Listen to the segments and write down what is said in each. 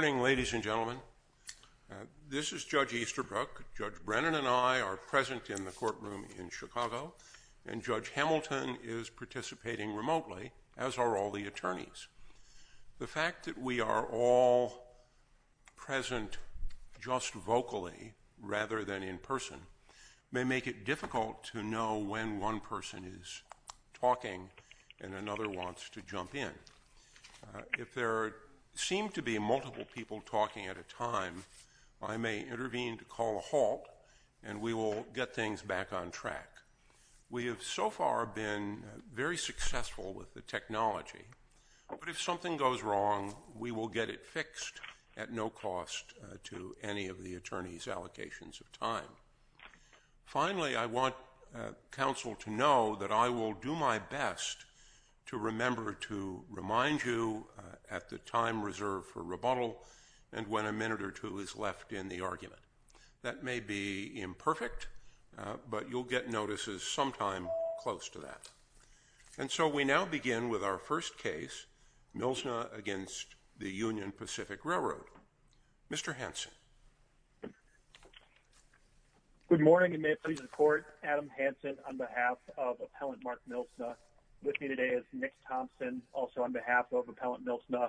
Good morning, ladies and gentlemen. This is Judge Easterbrook. Judge Brennan and I are present in the courtroom in Chicago, and Judge Hamilton is participating remotely, as are all the attorneys. The fact that we are all present just vocally rather than in person may make it difficult to know when one person is talking and another wants to jump in. If there seem to be multiple people talking at a time, I may intervene to call a halt, and we will get things back on track. We have so far been very successful with the technology, but if something goes wrong, we will get it fixed at no cost to any of the attorneys' allocations of time. Finally, I want counsel to know that I will do my best to remember to remind you at the time reserved for rebuttal and when a minute or two is left in the argument. That may be imperfect, but you'll get notices sometime close to that. And so we now begin with our first case, Mlsna v. Union Pacific Railroad. Mr. Hanson. Good morning, and may it please the Court, Adam Hanson on behalf of Appellant Mark Mlsna. With me today is Nick Thompson, also on behalf of Appellant Mlsna,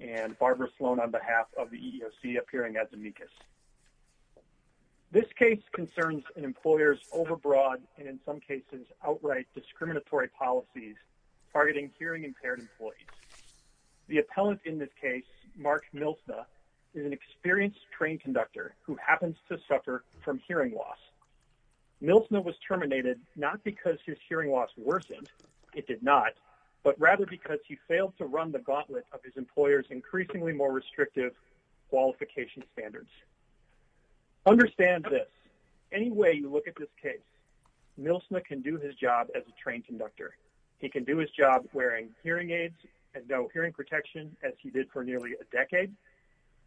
and Barbara Sloan on behalf of the EEOC appearing as amicus. This case concerns an employer's overbroad and in some cases outright discriminatory policies targeting hearing impaired employees. The appellant in this case, Mark Mlsna, is an experienced train conductor who happens to suffer from but rather because he failed to run the gauntlet of his employer's increasingly more restrictive qualification standards. Understand this. Any way you look at this case, Mlsna can do his job as a train conductor. He can do his job wearing hearing aids and no hearing protection as he did for nearly a decade.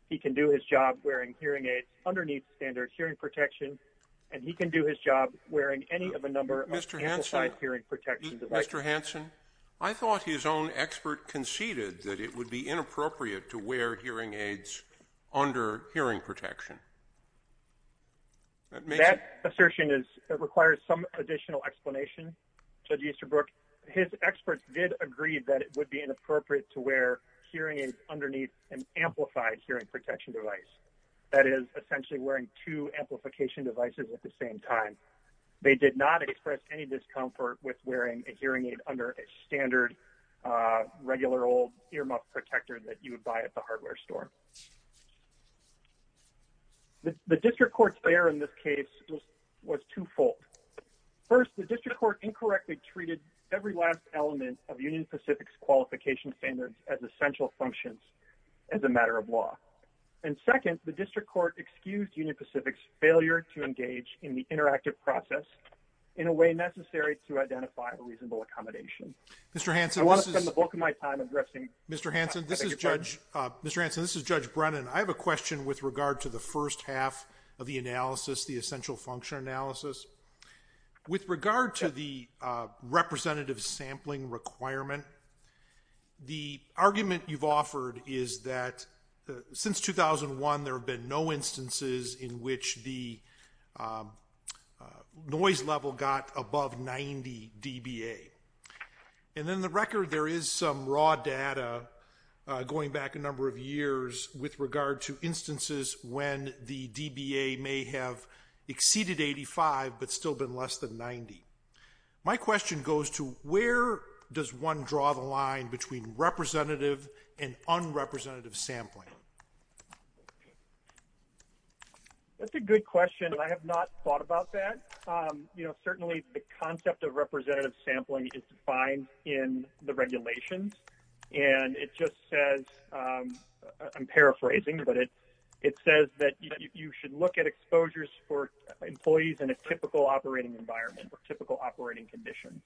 He can do his job wearing hearing aids underneath standard hearing protection, and he can do his job wearing any of a number of amplified hearing protection devices. Mr. Hanson, I thought his own expert conceded that it would be inappropriate to wear hearing aids under hearing protection. That assertion requires some additional explanation. Judge Easterbrook, his experts did agree that it would be inappropriate to wear hearing aids underneath an amplified hearing protection device. That is, essentially wearing two amplification devices at the same time. They did not express any discomfort with wearing a hearing aid under a standard regular old earmuff protector that you would buy at the hardware store. The district court's error in this case was twofold. First, the district court incorrectly treated every last element of Union Pacific's qualification standards as essential functions as a matter of law. And second, the district court excused Union Pacific's failure to engage in the interactive process in a way necessary to identify a reasonable accommodation. Mr. Hanson, this is Judge Brennan. I have a question with regard to the first half of the analysis, the essential function analysis. With regard to the representative sampling requirement, the argument you've offered is that since 2001 there have been no instances in which the noise level got above 90 dBA. And in the record there is some raw data going back a number of years with regard to instances when the dBA may have exceeded 85 but still been less than 90. My question goes to where does one draw the line between representative and unrepresentative sampling? That's a good question. I have not thought about that. You know, certainly the concept of representative sampling is defined in the regulations. And it just says, I'm paraphrasing, but it says that you should look at exposures for employees in a typical operating environment or typical operating condition.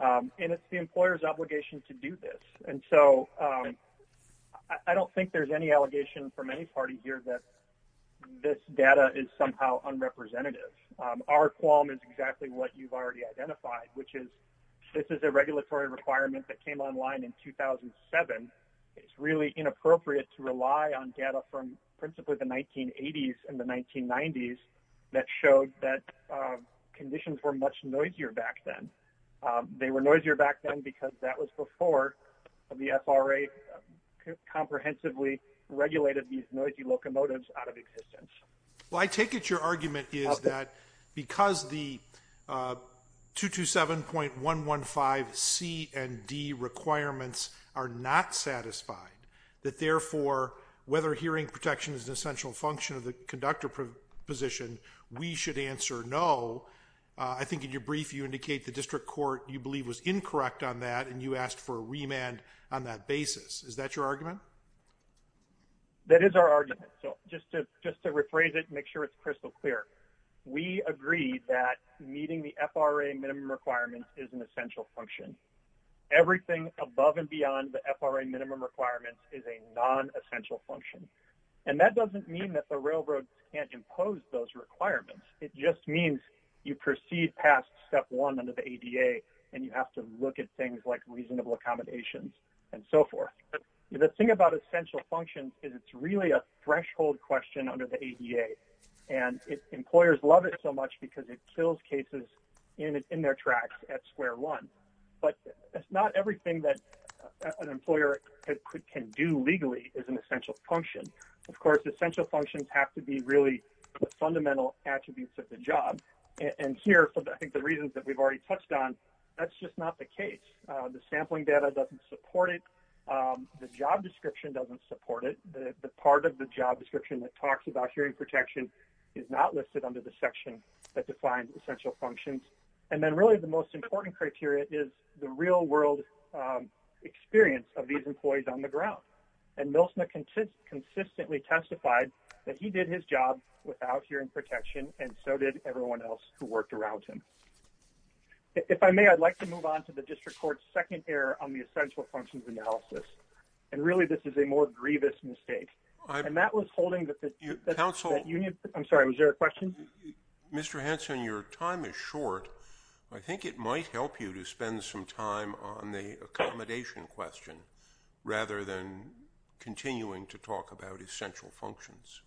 And it's the employer's obligation to do this. And so I don't think there's any allegation from any party here that this data is somehow unrepresentative. Our qualm is exactly what you've already identified, which is this is a regulatory requirement that came online in 2007. It's really inappropriate to rely on data from principally the 1980s and the 1990s that showed that conditions were much noisier back then. They were noisier back then because that was before the FRA comprehensively regulated these noisy locomotives out of existence. Well, I take it your argument is that because the 227.115 C and D requirements are not satisfied that therefore, whether hearing protection is an essential function of the conductor position, we should answer no. I think in your brief, you indicate the district court you believe was incorrect on that. And you asked for a remand on that basis. Is that your argument? That is our argument. So just to just to rephrase it, make sure it's crystal clear. We agree that meeting the FRA minimum requirements is an essential function. Everything above and beyond the FRA minimum requirements is a non-essential function. And that doesn't mean that the railroad can't impose those requirements. It just means you proceed past step one under the ADA and you have to look at things like reasonable accommodations and so forth. The thing about essential functions is it's really a threshold question under the ADA and its employers love it so much because it kills cases in their tracks at an employer could can do legally is an essential function. Of course, essential functions have to be really fundamental attributes of the job. And here, I think the reasons that we've already touched on, that's just not the case. The sampling data doesn't support it. The job description doesn't support it. The part of the job description that talks about hearing protection is not listed under the section that defines essential functions. And then really the most important criteria is the real world experience of these employees on the ground. And Milsma consistently testified that he did his job without hearing protection and so did everyone else who worked around him. If I may, I'd like to move on to the district court's second error on the essential functions analysis. And really this is a more grievous mistake. And that was holding the union. I'm sorry, was there a question? Mr. Hanson, your time is short. I think it might help you to spend some time on the accommodation question rather than continuing to talk about essential functions.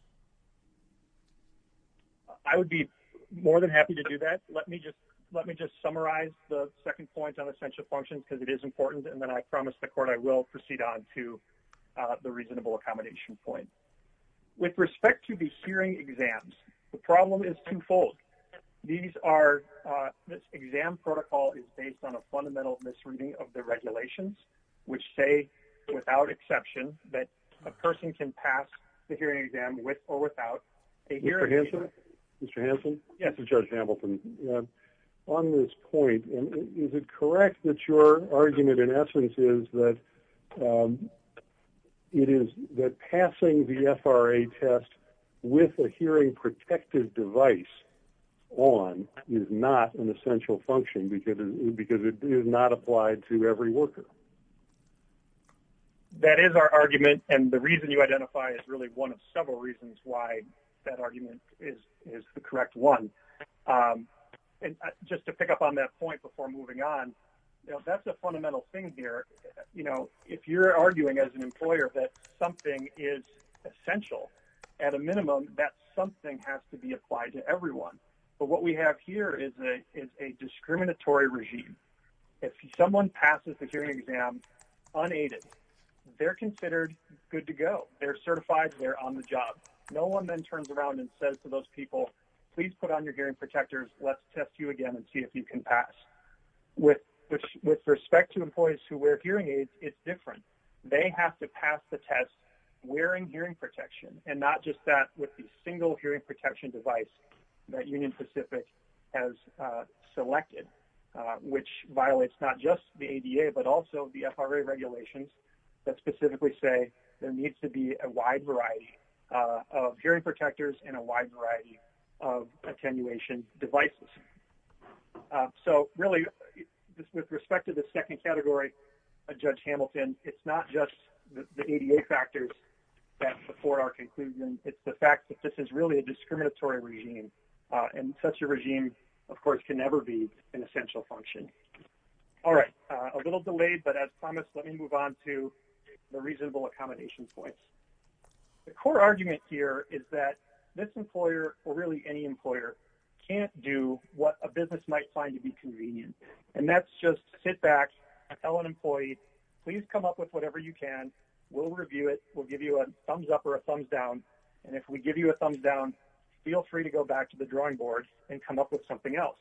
I would be more than happy to do that. Let me just let me just summarize the second point on essential functions because it is important. And then I promised the court I will proceed on to the reasonable accommodation point. With respect to the hearing exams, the problem is twofold. These are exam protocol is based on a fundamental misreading of the regulations, which say, without exception, that a person can pass the hearing exam with or without a hearing aid. Mr. Hanson? Mr. Hanson? Yes, Judge Hamilton. On this point, is it correct that your argument in this case is that it is that passing the FRA test with a hearing protective device on is not an essential function because it is not applied to every worker? That is our argument. And the reason you identify is really one of several reasons why that argument is the correct one. And just to pick up on that point before moving on, that's a if you're arguing as an employer that something is essential, at a minimum, that something has to be applied to everyone. But what we have here is a discriminatory regime. If someone passes the hearing exam unaided, they're considered good to go. They're certified. They're on the job. No one then turns around and says to those people, please put on your hearing protectors. Let's test you different. They have to pass the test wearing hearing protection and not just that with the single hearing protection device that Union Pacific has selected, which violates not just the ADA, but also the FRA regulations that specifically say there needs to be a wide variety of hearing protectors and a wide variety of attenuation devices. So really, with respect to the second category, Judge Hamilton, it's not just the ADA factors that support our conclusion. It's the fact that this is really a discriminatory regime. And such a regime, of course, can never be an essential function. All right, a little delayed, but as promised, let me move on to the reasonable accommodation points. The core argument here is that this employer, or really any employer, can't do what a business might find to be convenient. And that's just sit back, tell an employee, please come up with whatever you can. We'll review it. We'll give you a thumbs up or a thumbs down. And if we give you a thumbs down, feel free to go back to the drawing board and come up with something else.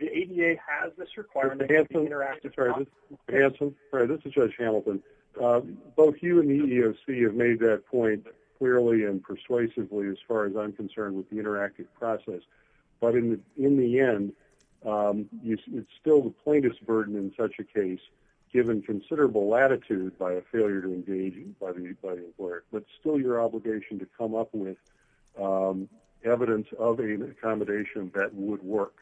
The ADA has this requirement. Hanson, this is Judge Hamilton. Both you and the EEOC have made that point clearly and persuasively as far as I'm concerned with the interactive process. But in the end, it's still the plaintiff's burden in such a case, given considerable latitude by a failure to engage anybody at work, but still your obligation to come up with evidence of an accommodation that would work.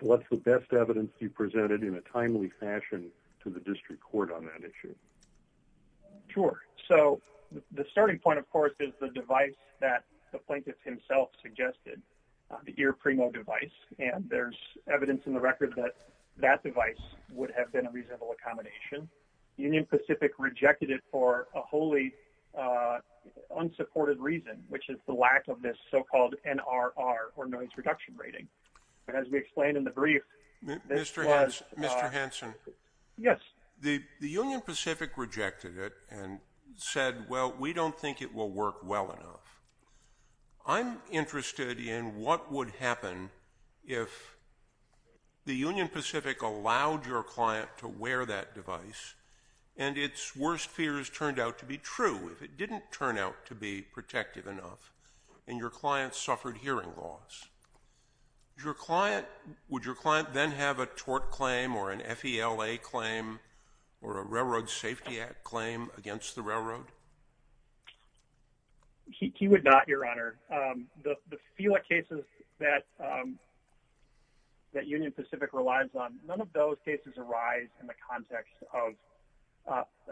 What's the best evidence you presented in a timely fashion to the district court on that issue? Sure. So the starting point, of course, is the device that the plaintiff himself suggested, the EarPrimo device. And there's evidence in the record that that device would have been a reasonable accommodation. Union Pacific rejected it for a wholly unsupported reason, which is the lack of this so-called NRR, or noise reduction rating. And as we explained in the brief, this was... Mr. Hanson. Yes. The Union Pacific rejected it and said, well, we don't think it will work well enough. I'm interested in what would happen if the Union Pacific allowed your client to wear that device, and its worst fears turned out to be true, if it didn't turn out to be protective enough, and your client suffered hearing loss. Would your client then have a tort claim, or an FELA claim, or a Railroad Safety Act claim against the railroad? He would not, Your Honor. The FELA cases that Union Pacific relies on, none of those cases arise in the context of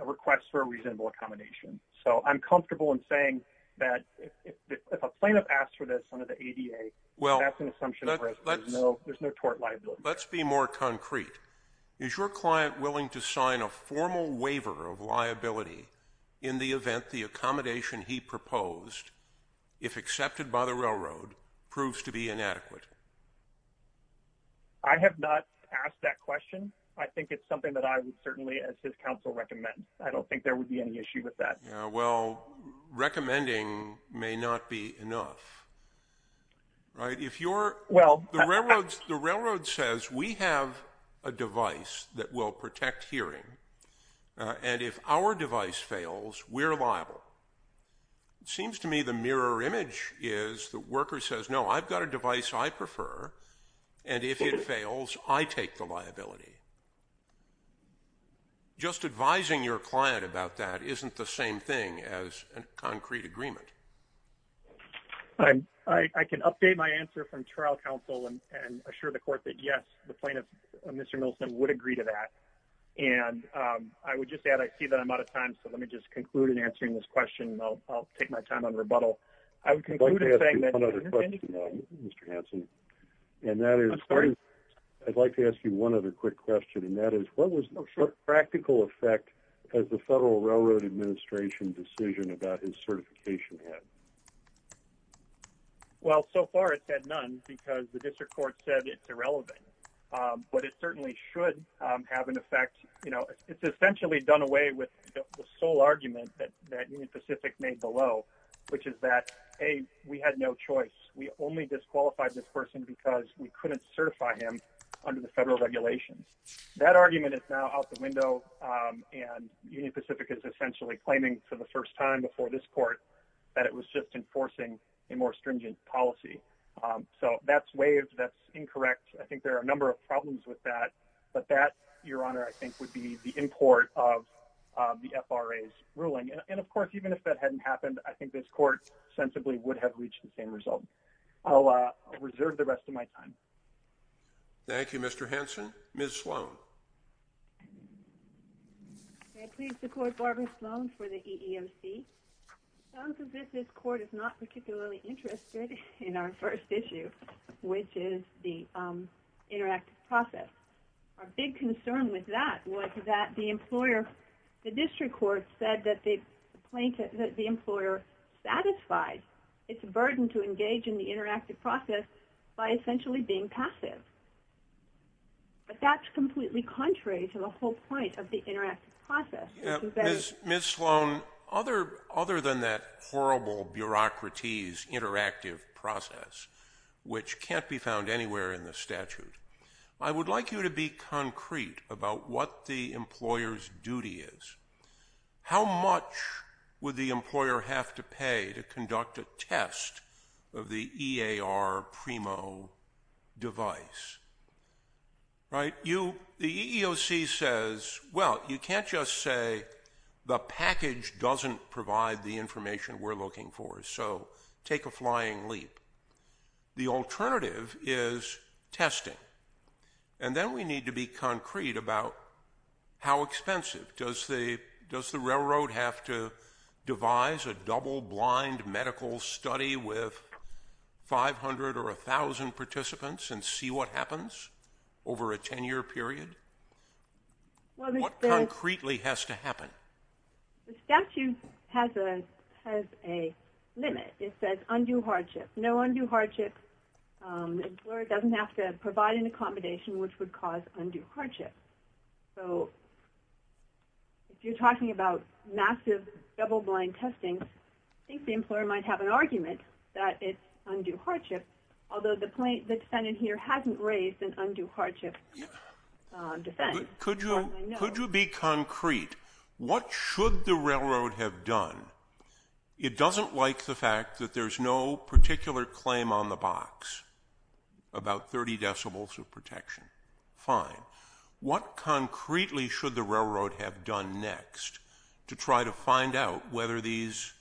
a request for a reasonable accommodation. So I'm comfortable in saying that if a plaintiff asks for this under the ADA, that's an assumption of risk. There's no tort liability. Let's be more concrete. Is your client willing to sign a formal waiver of liability in the event the accommodation he proposed, if accepted by the railroad, proves to be inadequate? I have not asked that question. I think it's something that I would certainly, as his counsel, recommend. I don't think there would be any issue with that. Yeah, well, recommending may not be enough. Right? If you're, the railroad says, we have a device that will protect hearing, and if our device fails, we're liable. It seems to me the mirror image is, the worker says, no, I've got a thing as a concrete agreement. I'm, I can update my answer from trial counsel and assure the court that yes, the plaintiff, Mr. Millicent would agree to that. And I would just add, I see that I'm out of time. So let me just conclude in answering this question. I'll take my time on rebuttal. I would conclude by saying that Mr. Hanson, and that is, I'd like to ask you one other quick question, and that is, what was the practical effect of the Federal Railroad Administration decision about his certification? Well, so far, it's had none, because the district court said it's irrelevant. But it certainly should have an effect. You know, it's essentially done away with the sole argument that that Union Pacific made below, which is that, hey, we had no choice. We only disqualified this person because we couldn't certify him under the federal regulations. That argument is now out the window. And Union Pacific is essentially claiming for the first time before this court, that it was just enforcing a more stringent policy. So that's waived. That's incorrect. I think there are a number of problems with that. But that, Your Honor, I think would be the import of the FRA's ruling. And of course, even if that hadn't happened, I think this court sensibly would have reached the same result. I'll reserve the rest of my time. Thank you, Mr. Hanson. Ms. Sloan. May I please support Barbara Sloan for the EEOC? Sounds as if this court is not particularly interested in our first issue, which is the interactive process. Our big concern with that was that the employer, the district court said that they plaintiff that the employer is not satisfied. It's a burden to engage in the interactive process by essentially being passive. But that's completely contrary to the whole point of the interactive process. Ms. Sloan, other than that horrible bureaucraties interactive process, which can't be found anywhere in the statute, I would like you to be concrete about what the employer's duty is. How much would the employer have to pay to conduct a test of the EAR Primo device? Right? The EEOC says, well, you can't just say the package doesn't provide the information we're looking for. So take a flying leap. The Then we need to be concrete about how expensive. Does the railroad have to devise a double blind medical study with 500 or 1,000 participants and see what happens over a 10 year period? What concretely has to happen? The statute has a limit. It says undue hardship, no undue hardship. The employer doesn't have to provide an accommodation which would cause undue hardship. So if you're talking about massive double blind testing, I think the employer might have an argument that it's undue hardship. Although the plaintiff, the defendant here hasn't raised an undue hardship. Could you be concrete? What should the railroad have done? It doesn't like the fact that there's no particular claim on the box about 30 decibels of protection. Fine. What concretely should the railroad have done next to try to find out whether these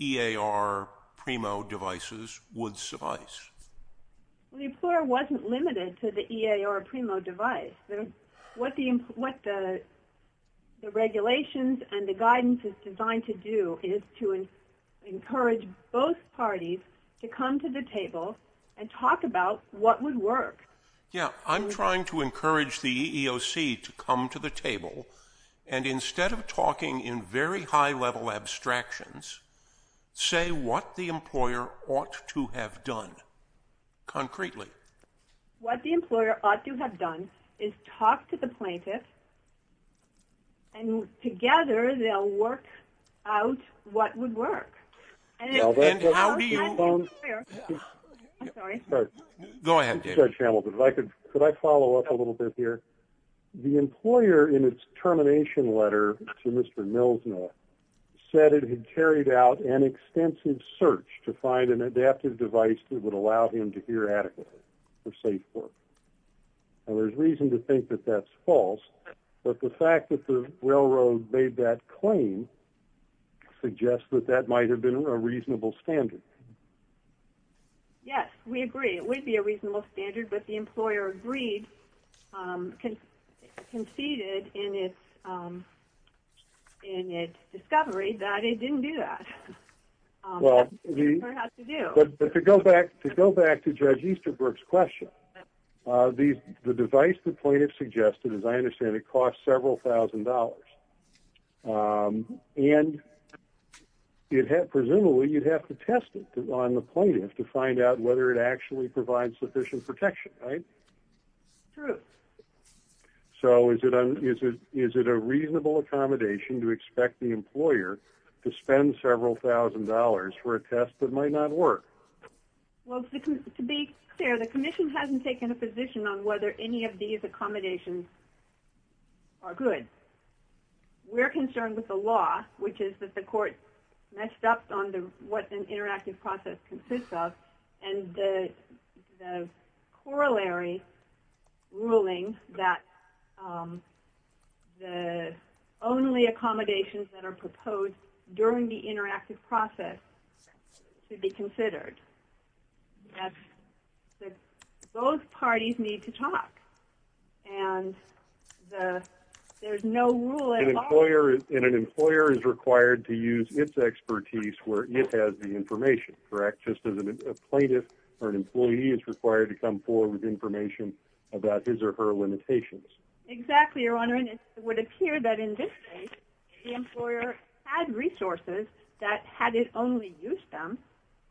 EAR Primo devices would suffice? The employer wasn't limited to the EAR Primo device. What the regulations and the guidance is designed to do is to encourage both parties to come to the table and talk about what would work. Yeah, I'm trying to encourage the EEOC to come to the table. And instead of talking in very high level abstractions, say what the employer ought to have done. Concretely. What the employer ought to have done is talk to the plaintiff. And together, they'll work out what would work. And how do you... I'm sorry. Go ahead, David. Judge Hamilton, could I follow up a little bit here? The employer in its termination letter to Mr. Milsner said it had carried out an extensive search to find an adaptive device that would allow him to hear a reasonable standard. Yes, we agree. It would be a reasonable standard. But the employer agreed, conceded in its discovery that it didn't do that. Well, to go back to Judge Easterbrook's question, the device the plaintiff suggested, as I understand it, cost several thousand dollars. And presumably, you'd have to test it on the plaintiff to find out whether it actually provides sufficient protection, right? True. So is it a reasonable accommodation to expect the employer to spend several thousand dollars for a test that might not work? Well, to be clear, the commission hasn't taken a position on whether any of these accommodations are good. We're concerned with the law, which is that the court messed up on what an interactive process consists of. And the corollary ruling that the only accommodations that are proposed during the interactive process should be considered. Those parties need to talk. And there's no rule at all. And an employer is required to use its expertise where it has the information, correct? Just as a plaintiff or an employee is required to come forward with information about his or her limitations. Exactly, Your Honor. And it would appear that in this case, if the employer had resources, that had it only used them,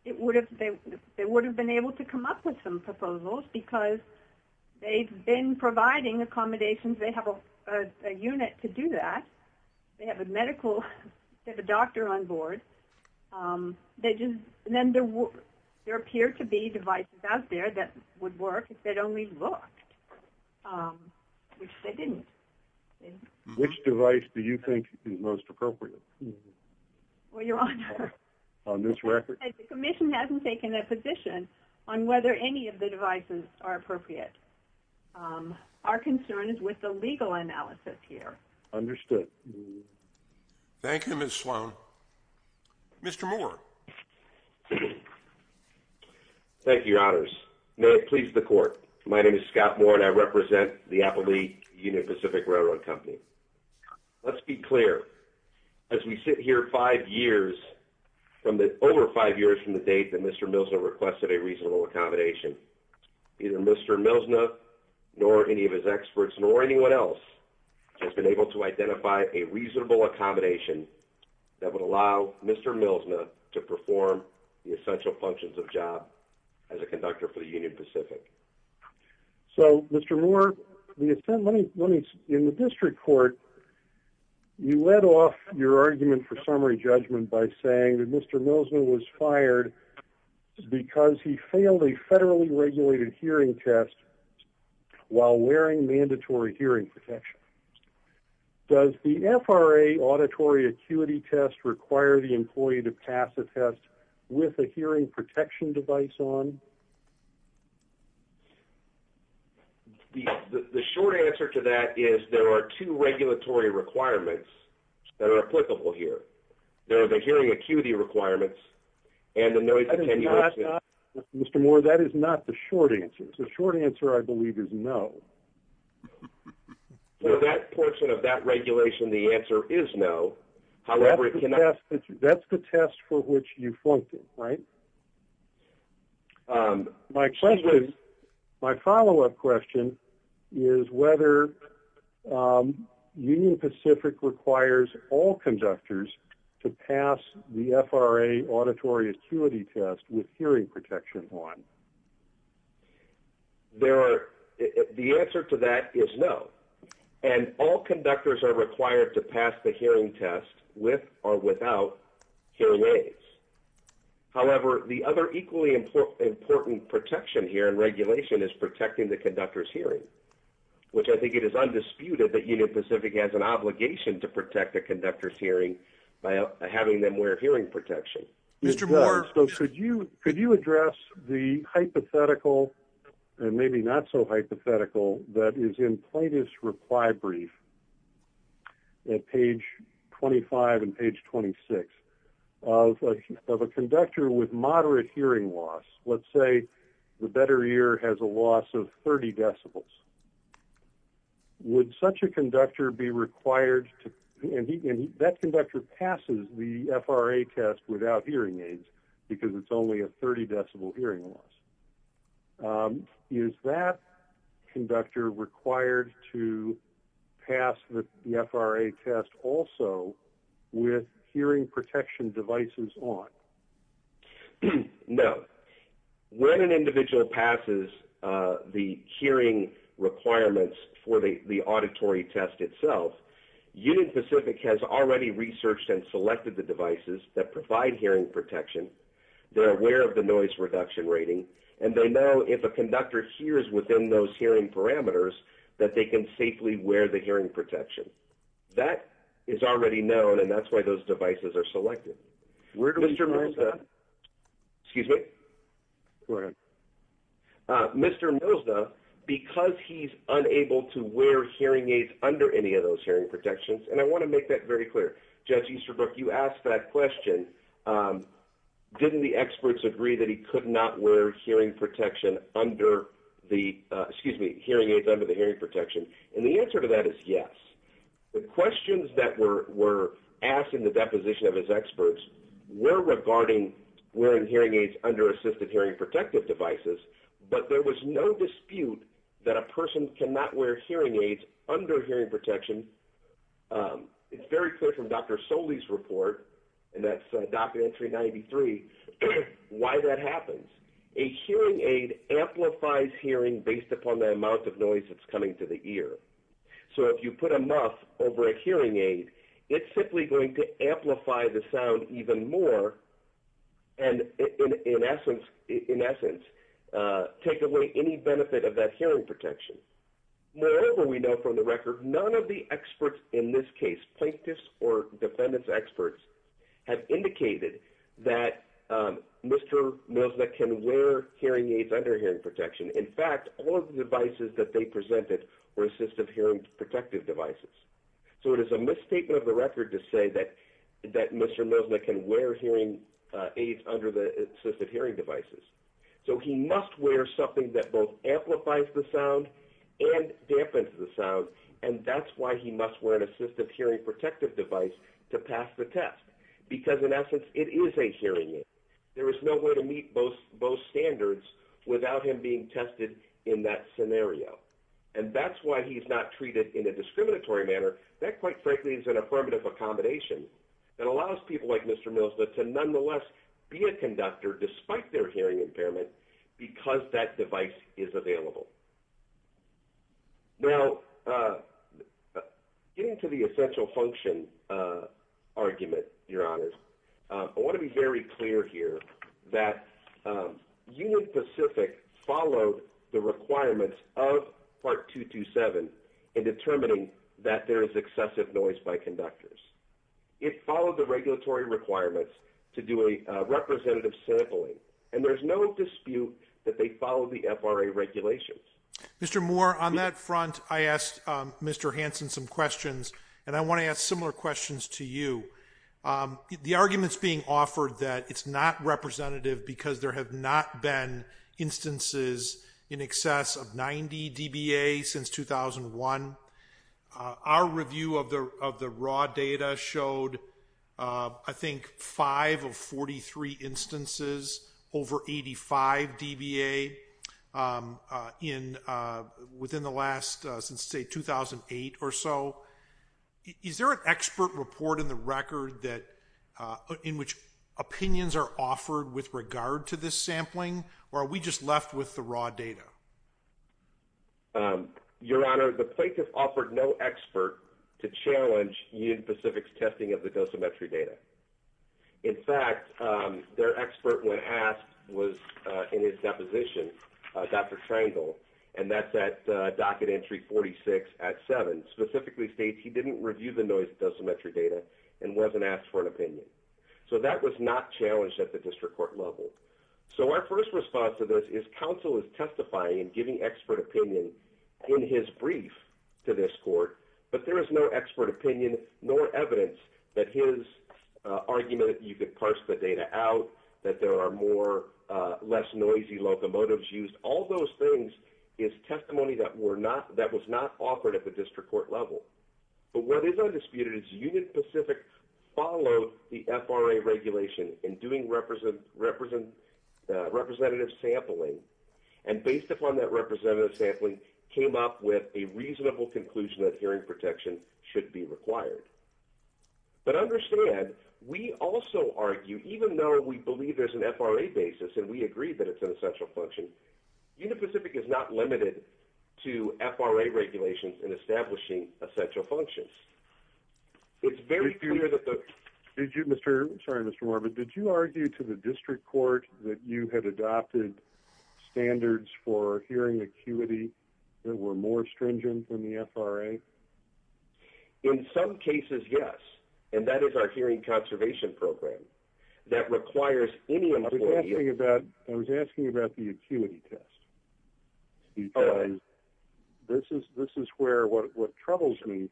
they would have been able to come up with some proposals because they've been providing accommodations. They have a unit to do that. They have a doctor on board. Then there appear to be devices out there that would work if they'd only looked, which they didn't. Which device do you think is most appropriate? Well, Your Honor, the commission hasn't taken a position on whether any of the devices are appropriate. Our concern is with the legal analysis here. Understood. Thank you, Ms. Sloan. Mr. Moore. Thank you, Your Honors. May it please the court. My name is Scott Moore, and I represent the Appleby Union Pacific Railroad Company. Let's be clear. As we sit here five years, over five years from the date that Mr. Milsner requested a reasonable accommodation, neither Mr. Milsner, nor any of his experts, nor anyone else has been able to identify a reasonable accommodation that would allow Mr. Milsner to perform the essential functions of job as a conductor for the Union Pacific. So, Mr. Moore, in the district court, you led off your argument for summary judgment by saying that Mr. Milsner was fired because he failed a federally regulated hearing test while wearing mandatory hearing protection. Does the FRA auditory acuity test require the employee to pass the test with a hearing protection device on? The short answer to that is there are two regulatory requirements that are applicable here. There are the hearing acuity requirements and the noise attenuation. Mr. Moore, that is not the short answer. The short answer, I believe, is no. For that portion of that regulation, the answer is no. However, that's the test for which you flunked it, right? My follow-up question is whether Union Pacific requires all conductors to pass the FRA auditory acuity test with hearing protection on. The answer to that is no. And all conductors are required to pass the hearing test with or without hearing aids. However, the other equally important protection here in regulation is protecting the conductor's hearing, which I think it is undisputed that Union Pacific has an obligation to protect the conductor's hearing by having them wear hearing protection. Could you address the hypothetical and maybe not so hypothetical that is in Plaintiff's reply brief at page 25 and page 26 of a conductor with moderate hearing loss? Let's say the better ear has a loss of 30 decibels. Would such a conductor be required to – and that conductor passes the FRA test without hearing aids because it's only a 30-decibel hearing loss. Is that conductor required to pass the FRA test also with hearing protection devices on? No. When an individual passes the hearing requirements for the auditory test itself, Union Pacific has already researched and selected the devices that provide hearing protection, they're aware of the noise reduction rating, and they know if a conductor hears within those hearing parameters that they can safely wear the hearing protection. That is already known, and that's why those devices are selected. Mr. Milza, because he's unable to wear hearing aids under any of those hearing protections – and I want to make that very clear. Judge Easterbrook, you asked that question. Didn't the experts agree that he could not wear hearing aids under the hearing protection? And the answer to that is yes. The questions that were asked in the deposition of his experts were regarding wearing hearing aids under assisted hearing protective devices, but there was no dispute that a person cannot wear hearing aids under hearing protection. It's very clear from Dr. Soley's report, and that's document 393, why that happens. A hearing aid amplifies hearing based upon the amount of noise that's coming to the ear. So if you put a muff over a hearing aid, it's simply going to amplify the sound even more and, in essence, take away any benefit of that hearing protection. Moreover, we know from the record, none of the experts in this case, plaintiffs or defendant's experts, have indicated that Mr. Milza can wear hearing aids under hearing protection. In fact, all of the devices that they presented were assistive hearing protective devices. So it is a misstatement of the record to say that Mr. Milza can wear hearing aids under the assistive hearing devices. So he must wear something that both amplifies the sound and dampens the sound, and that's why he must wear an assistive hearing protective device to pass the test because, in essence, it is a hearing aid. There is no way to meet both standards without him being tested in that scenario, and that's why he's not treated in a discriminatory manner. That, quite frankly, is an affirmative accommodation that allows people like Mr. Milza to, nonetheless, be a conductor despite their hearing impairment because that device is available. I want to be very clear here that Union Pacific followed the requirements of Part 227 in determining that there is excessive noise by conductors. It followed the regulatory requirements to do a representative sampling, and there's no dispute that they followed the FRA regulations. Mr. Moore, on that front, I asked Mr. Hansen some questions, and I want to ask similar questions to you. The argument is being offered that it's not representative because there have not been instances in excess of 90 dBA since 2001. Our review of the raw data showed, I think, 5 of 43 instances over 85 dBA within the last, say, 2008 or so. Is there an expert report in the record in which opinions are offered with regard to this sampling, or are we just left with the raw data? Your Honor, the plaintiff offered no expert to challenge Union Pacific's testing of the dosimetry data. In fact, their expert, when asked, was in his deposition, Dr. Triangle, and that's at docket entry 46 at 7. Specifically states he didn't review the dosimetry data and wasn't asked for an opinion. So that was not challenged at the district court level. So our first response to this is counsel is testifying and giving expert opinion in his brief to this court, but there is no expert opinion nor evidence that his argument, you could parse the data out, that there are less noisy locomotives used. All those things is testimony that was not offered at the district court level. But what is undisputed is Union Pacific followed the FRA regulation in doing representative sampling, and based upon that representative sampling, came up with a reasonable conclusion that hearing protection should be required. But understand, we also argue, even though we believe there's an FRA basis and we agree that it's an essential function, Union Pacific is not limited to FRA regulations in establishing essential functions. It's very clear that the... Did you, Mr., sorry, Mr. Moore, but did you argue to the district court that you had adopted standards for hearing acuity that were more stringent than the FRA? In some cases, yes. And that is our hearing conservation program. That requires any... I was asking about the acuity test. Because this is where what troubles me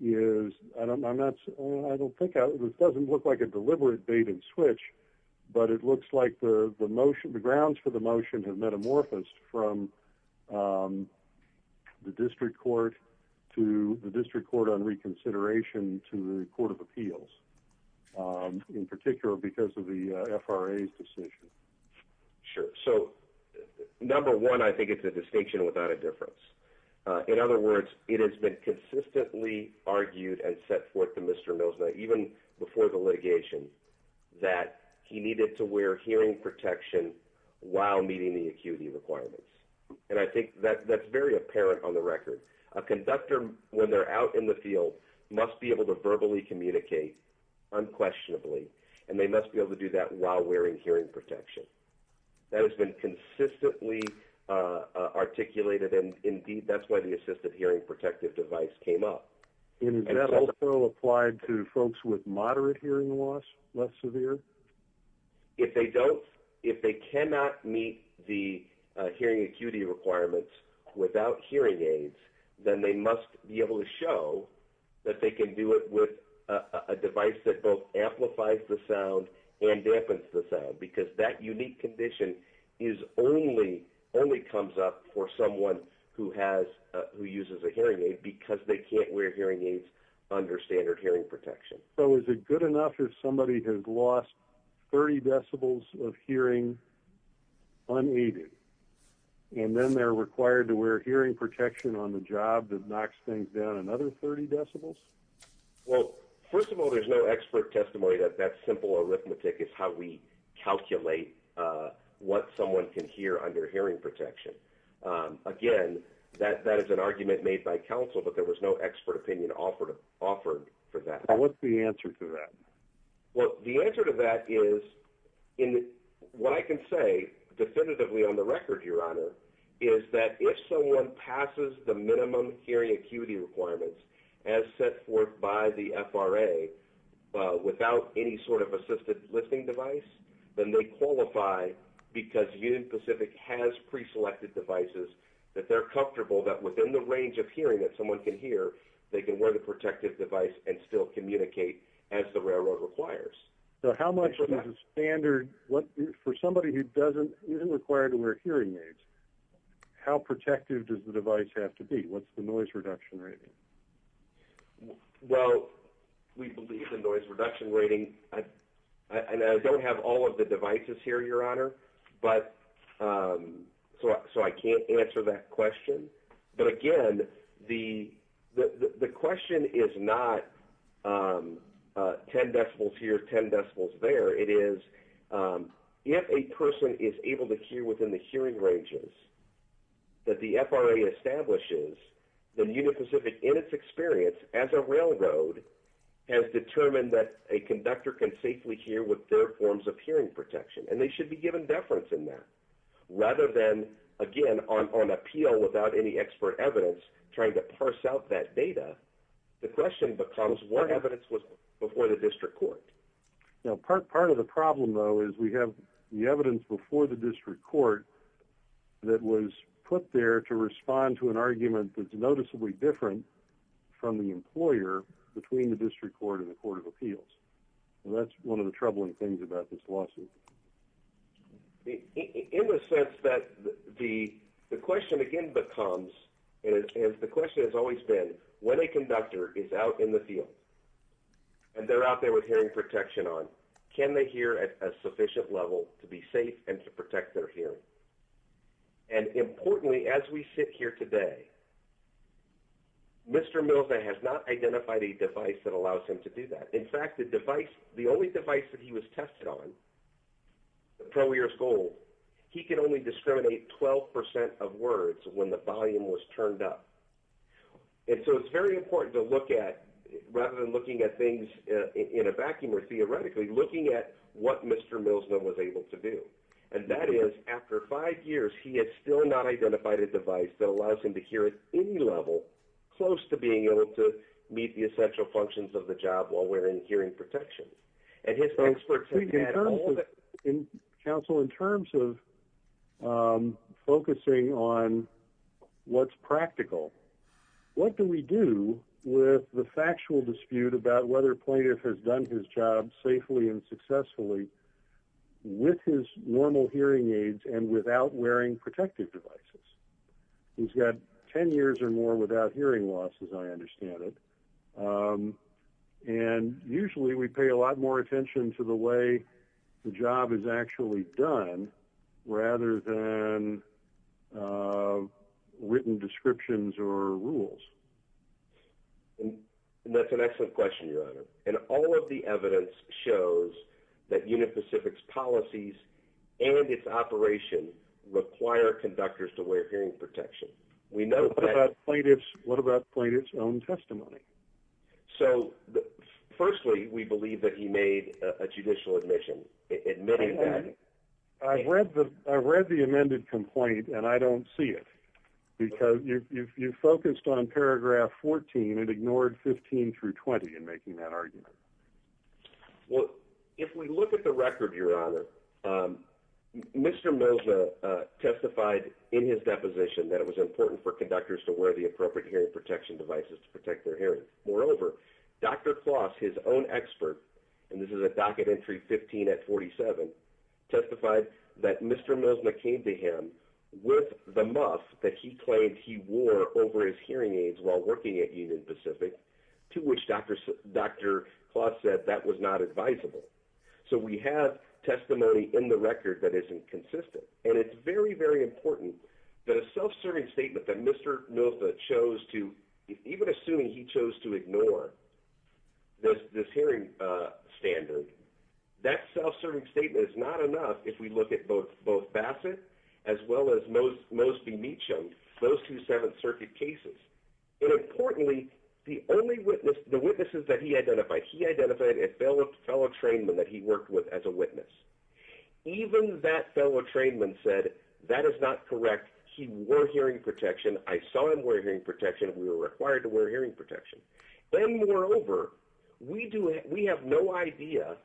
is, I don't pick out, this doesn't look like a deliberate bait and switch, but it looks like the grounds for the motion have metamorphosed from the district court to the district court on reconsideration to the court of appeals, in particular because of the FRA's decision. Sure. So, number one, I think it's a distinction without a difference. In other words, it has been consistently argued and set forth to Mr. Milsner, even before the litigation, that he needed to wear hearing protection while meeting the acuity requirements. And I think that's very apparent on the record. A conductor, when they're out in the field, must be able to verbally communicate unquestionably, and they must be able to do that while wearing hearing protection. That has been consistently articulated, and, indeed, that's why the assisted hearing protective device came up. And is that also applied to folks with moderate hearing loss, less severe? If they cannot meet the hearing acuity requirements without hearing aids, then they must be able to show that they can do it with a device that both amplifies the sound and dampens the sound, because that unique condition only comes up for someone who uses a hearing aid because they can't wear hearing aids under standard hearing protection. So is it good enough if somebody has lost 30 decibels of hearing unneeded, and then they're required to wear hearing protection on the job that knocks things down another 30 decibels? Well, first of all, there's no expert testimony that that simple arithmetic is how we calculate what someone can hear under hearing protection. Again, that is an argument made by counsel, but there was no expert opinion offered for that. What's the answer to that? Well, the answer to that is, what I can say definitively on the record, Your Honor, is that if someone passes the minimum hearing acuity requirements as set forth by the FRA without any sort of assisted listening device, then they qualify because Union Pacific has preselected devices that they're comfortable that within the range of hearing that someone can hear, they can wear the protective device and still communicate as the railroad requires. So how much does a standard, for somebody who isn't required to wear hearing aids, how protective does the device have to be? What's the noise reduction rating? Well, we believe the noise reduction rating, and I don't have all of the devices here, Your Honor, so I can't answer that question. But again, the question is not 10 decibels here, 10 decibels there. It is if a person is able to hear within the hearing ranges that the FRA establishes, then Union Pacific, in its experience as a railroad, has determined that a conductor can safely hear with their forms of hearing protection, and they should be given deference in that. Rather than, again, on appeal without any expert evidence trying to parse out that data, the question becomes what evidence was before the district court. Now, part of the problem, though, is we have the evidence before the district court that was put there to respond to an argument that's noticeably different from the employer between the district court and the court of appeals. That's one of the troubling things about this lawsuit. In the sense that the question again becomes, and the question has always been, when a conductor is out in the field and they're out there with hearing protection on, can they hear at a sufficient level to be safe and to protect their hearing? Importantly, as we sit here today, Mr. Milne has not identified a device that allows him to do that. In fact, the only device that he was tested on, the ProEars Gold, he could only discriminate 12% of words when the volume was turned up. So it's very important to look at, rather than looking at things in a vacuum or theoretically, looking at what Mr. Milne was able to do. That is, after five years, he had still not identified a device that allows him to hear at any level close to being able to meet the essential functions of the job while wearing hearing protection. In terms of, counsel, in terms of focusing on what's practical, what do we do with the factual dispute about whether a plaintiff has done his job safely and successfully with his normal hearing aids and without wearing protective devices? He's got 10 years or more without hearing loss, as I understand it. And usually, we pay a lot more attention to the way the job is actually done, rather than written descriptions or rules. That's an excellent question, Your Honor. And all of the evidence shows that Unit Pacific's policies and its operation require conductors to wear hearing protection. What about plaintiff's own testimony? So, firstly, we believe that he made a judicial admission, admitting that. I've read the amended complaint, and I don't see it, because you focused on paragraph 14 and ignored 15 through 20 in making that argument. Well, if we look at the record, Your Honor, Mr. Mosna testified in his deposition that it was important for conductors to wear the appropriate hearing protection devices to protect their hearing. Moreover, Dr. Kloss, his own expert, and this is a docket entry 15 at 47, testified that Mr. Mosna came to him with the muff that he claimed he wore over his hearing aids while working at Unit Pacific, to which Dr. Kloss said that was not advisable. So we have testimony in the record that isn't consistent. And it's very, very important that a self-serving statement that Mr. Mosna chose to, even assuming he chose to ignore this hearing standard, that self-serving statement is not enough if we look at both Bassett as well as Mosby-Meachum, those two Seventh Circuit cases. And importantly, the witnesses that he identified, he identified a fellow trainman that he worked with as a witness. Even that fellow trainman said that is not correct. He wore hearing protection. I saw him wear hearing protection. We were required to wear hearing protection. Then, moreover, we have no idea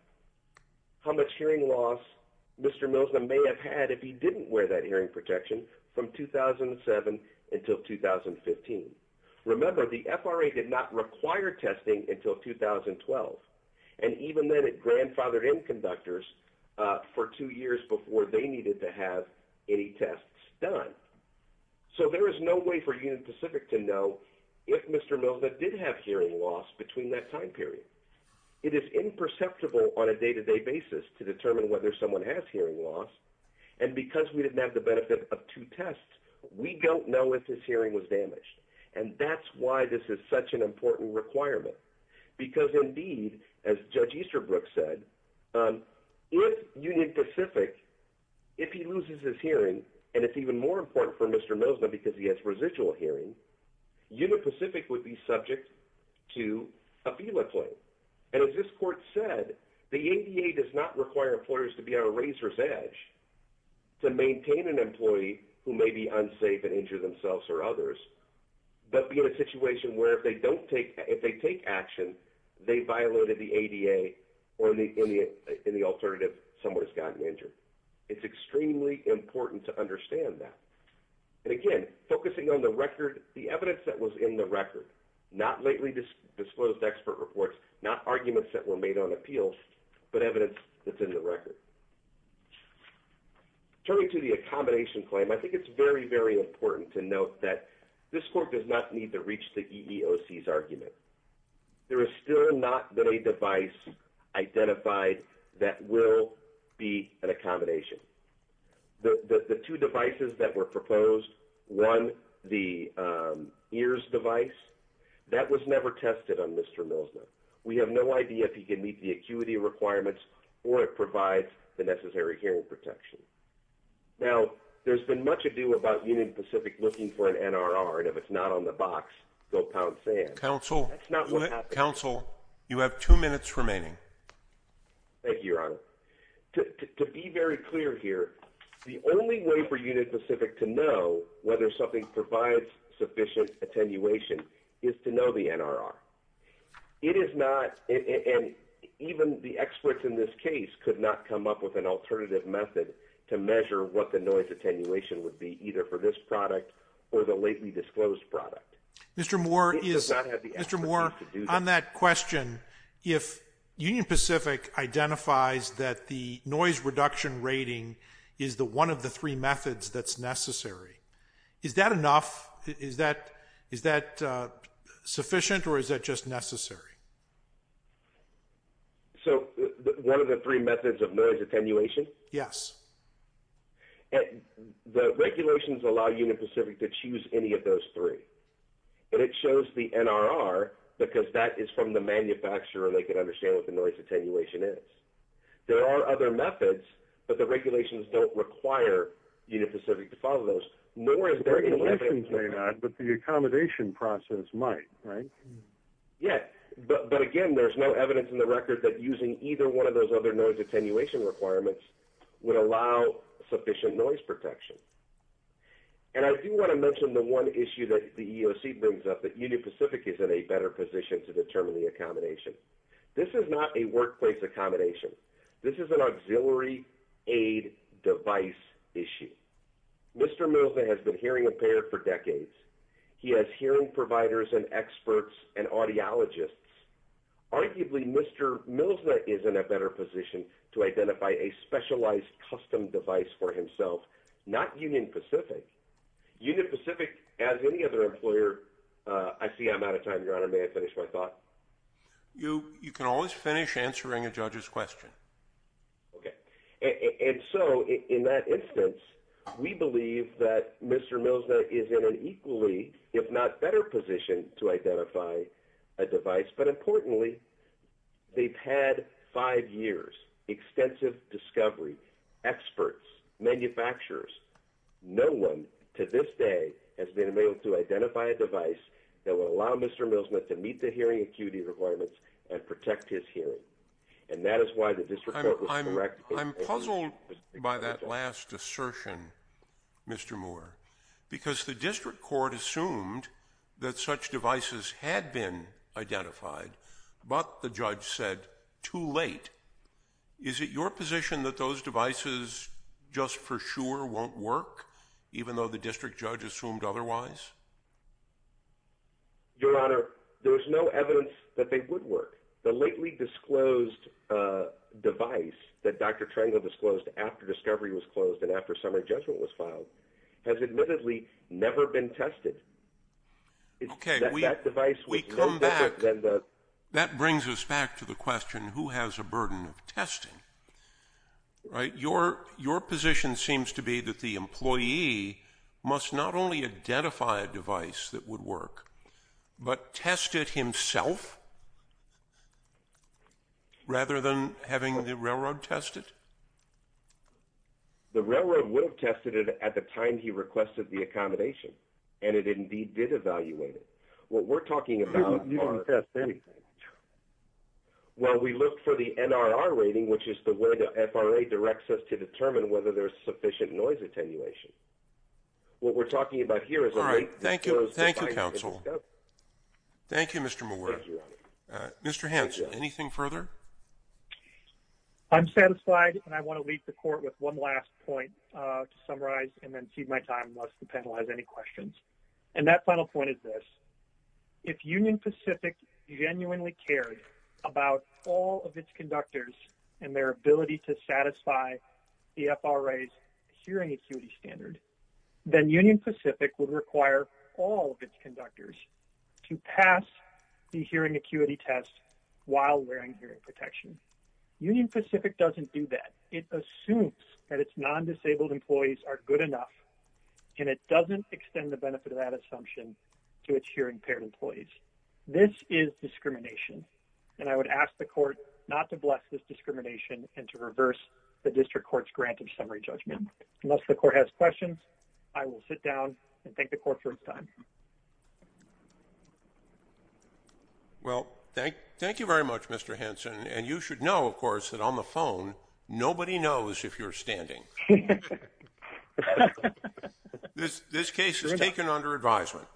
how much hearing loss Mr. Mosna may have had if he didn't wear that hearing protection from 2007 until 2015. Remember, the FRA did not require testing until 2012. And even then, it grandfathered in conductors for two years before they needed to have any tests done. So there is no way for Unit Pacific to know if Mr. Mosna did have hearing loss between that time period. It is imperceptible on a day-to-day basis to determine whether someone has hearing loss. And because we didn't have the benefit of two tests, we don't know if his hearing was damaged. And that's why this is such an important requirement. Because, indeed, as Judge Easterbrook said, with Unit Pacific, if he loses his hearing, and it's even more important for Mr. Mosna because he has residual hearing, Unit Pacific would be subject to a FELA claim. And as this court said, the ADA does not require employers to be on a razor's edge to maintain an employee who may be unsafe and injure themselves or others, but be in a situation where if they take action, they violated the ADA or, in the alternative, someone has gotten injured. It's extremely important to understand that. And, again, focusing on the record, the evidence that was in the record, not lately disclosed expert reports, not arguments that were made on appeals, but evidence that's in the record. Turning to the accommodation claim, I think it's very, very important to note that this court does not need to reach the EEOC's argument. There has still not been a device identified that will be an accommodation. The two devices that were proposed, one, the EARS device, that was never tested on Mr. Mosna. We have no idea if he can meet the acuity requirements or if it provides the necessary hearing protection. Now, there's been much ado about Unit Pacific looking for an NRR, and if it's not on the box, go pound sand. Thank you, Your Honor. To be very clear here, the only way for Unit Pacific to know whether something provides sufficient attenuation is to know the NRR. It is not, and even the experts in this case could not come up with an alternative method to measure what the noise attenuation would be, either for this product or the lately disclosed product. Mr. Moore, on that question, if Union Pacific identifies that the noise reduction rating is one of the three methods that's necessary, is that enough? Is that sufficient or is that just necessary? So, one of the three methods of noise attenuation? Yes. The regulations allow Union Pacific to choose any of those three, but it shows the NRR because that is from the manufacturer and they can understand what the noise attenuation is. There are other methods, but the regulations don't require Union Pacific to follow those. The regulations may not, but the accommodation process might, right? Yeah, but again, there's no evidence in the record that using either one of those other noise attenuation requirements would allow sufficient noise protection. And I do want to mention the one issue that the EEOC brings up, that Union Pacific is in a better position to determine the accommodation. This is not a workplace accommodation. This is an auxiliary aid device issue. Mr. Milza has been hearing impaired for decades. He has hearing providers and experts and audiologists. Arguably, Mr. Milza is in a better position to identify a specialized custom device for himself, not Union Pacific. Union Pacific, as any other employer, I see I'm out of time, Your Honor. May I finish my thought? You can always finish answering a judge's question. Okay. And so in that instance, we believe that Mr. Milza is in an equally, if not better position to identify a device. But importantly, they've had five years, extensive discovery, experts, manufacturers. No one to this day has been able to identify a device that will allow Mr. Milza to meet the hearing acuity requirements and protect his hearing. And that is why the district court was correct. I'm puzzled by that last assertion, Mr. Moore, because the district court assumed that such devices had been identified, but the judge said too late. Is it your position that those devices just for sure won't work, even though the district judge assumed otherwise? Your Honor, there was no evidence that they would work. The lately disclosed device that Dr. Milza is in has admittedly never been tested. Okay. We come back. That brings us back to the question, who has a burden of testing? Right. Your position seems to be that the employee must not only identify a device that would work, but test it himself. Rather than having the railroad tested. The railroad would have tested it at the time he requested the accommodation. And it indeed did evaluate it. What we're talking about. Well, we look for the NRR rating, which is the way the FRA directs us to determine whether there's sufficient noise attenuation. What we're talking about here is all right. Thank you. Thank you, counsel. Thank you, Mr. Moore. Mr. Hanson, anything further? I'm satisfied. And I want to leave the court with one last point to summarize and then see my time. Unless the panel has any questions. And that final point is this. If union Pacific. Genuinely cared about all of its conductors. And their ability to satisfy. The FRA. Hearing acuity standard. Then union Pacific would require all of its conductors. To pass. The hearing acuity test. While wearing hearing protection. Union Pacific doesn't do that. It assumes that it's non-disabled employees are good enough. And it doesn't extend the benefit of that assumption. To its hearing impaired employees. This is discrimination. And I would ask the court. Not to bless this discrimination and to reverse. The district court's grant of summary judgment. Unless the court has questions. I will sit down and thank the court for its time. Well, thank, thank you very much, Mr. Henson. And you should know, of course, that on the phone. Nobody knows if you're standing. This case is taken under advisement.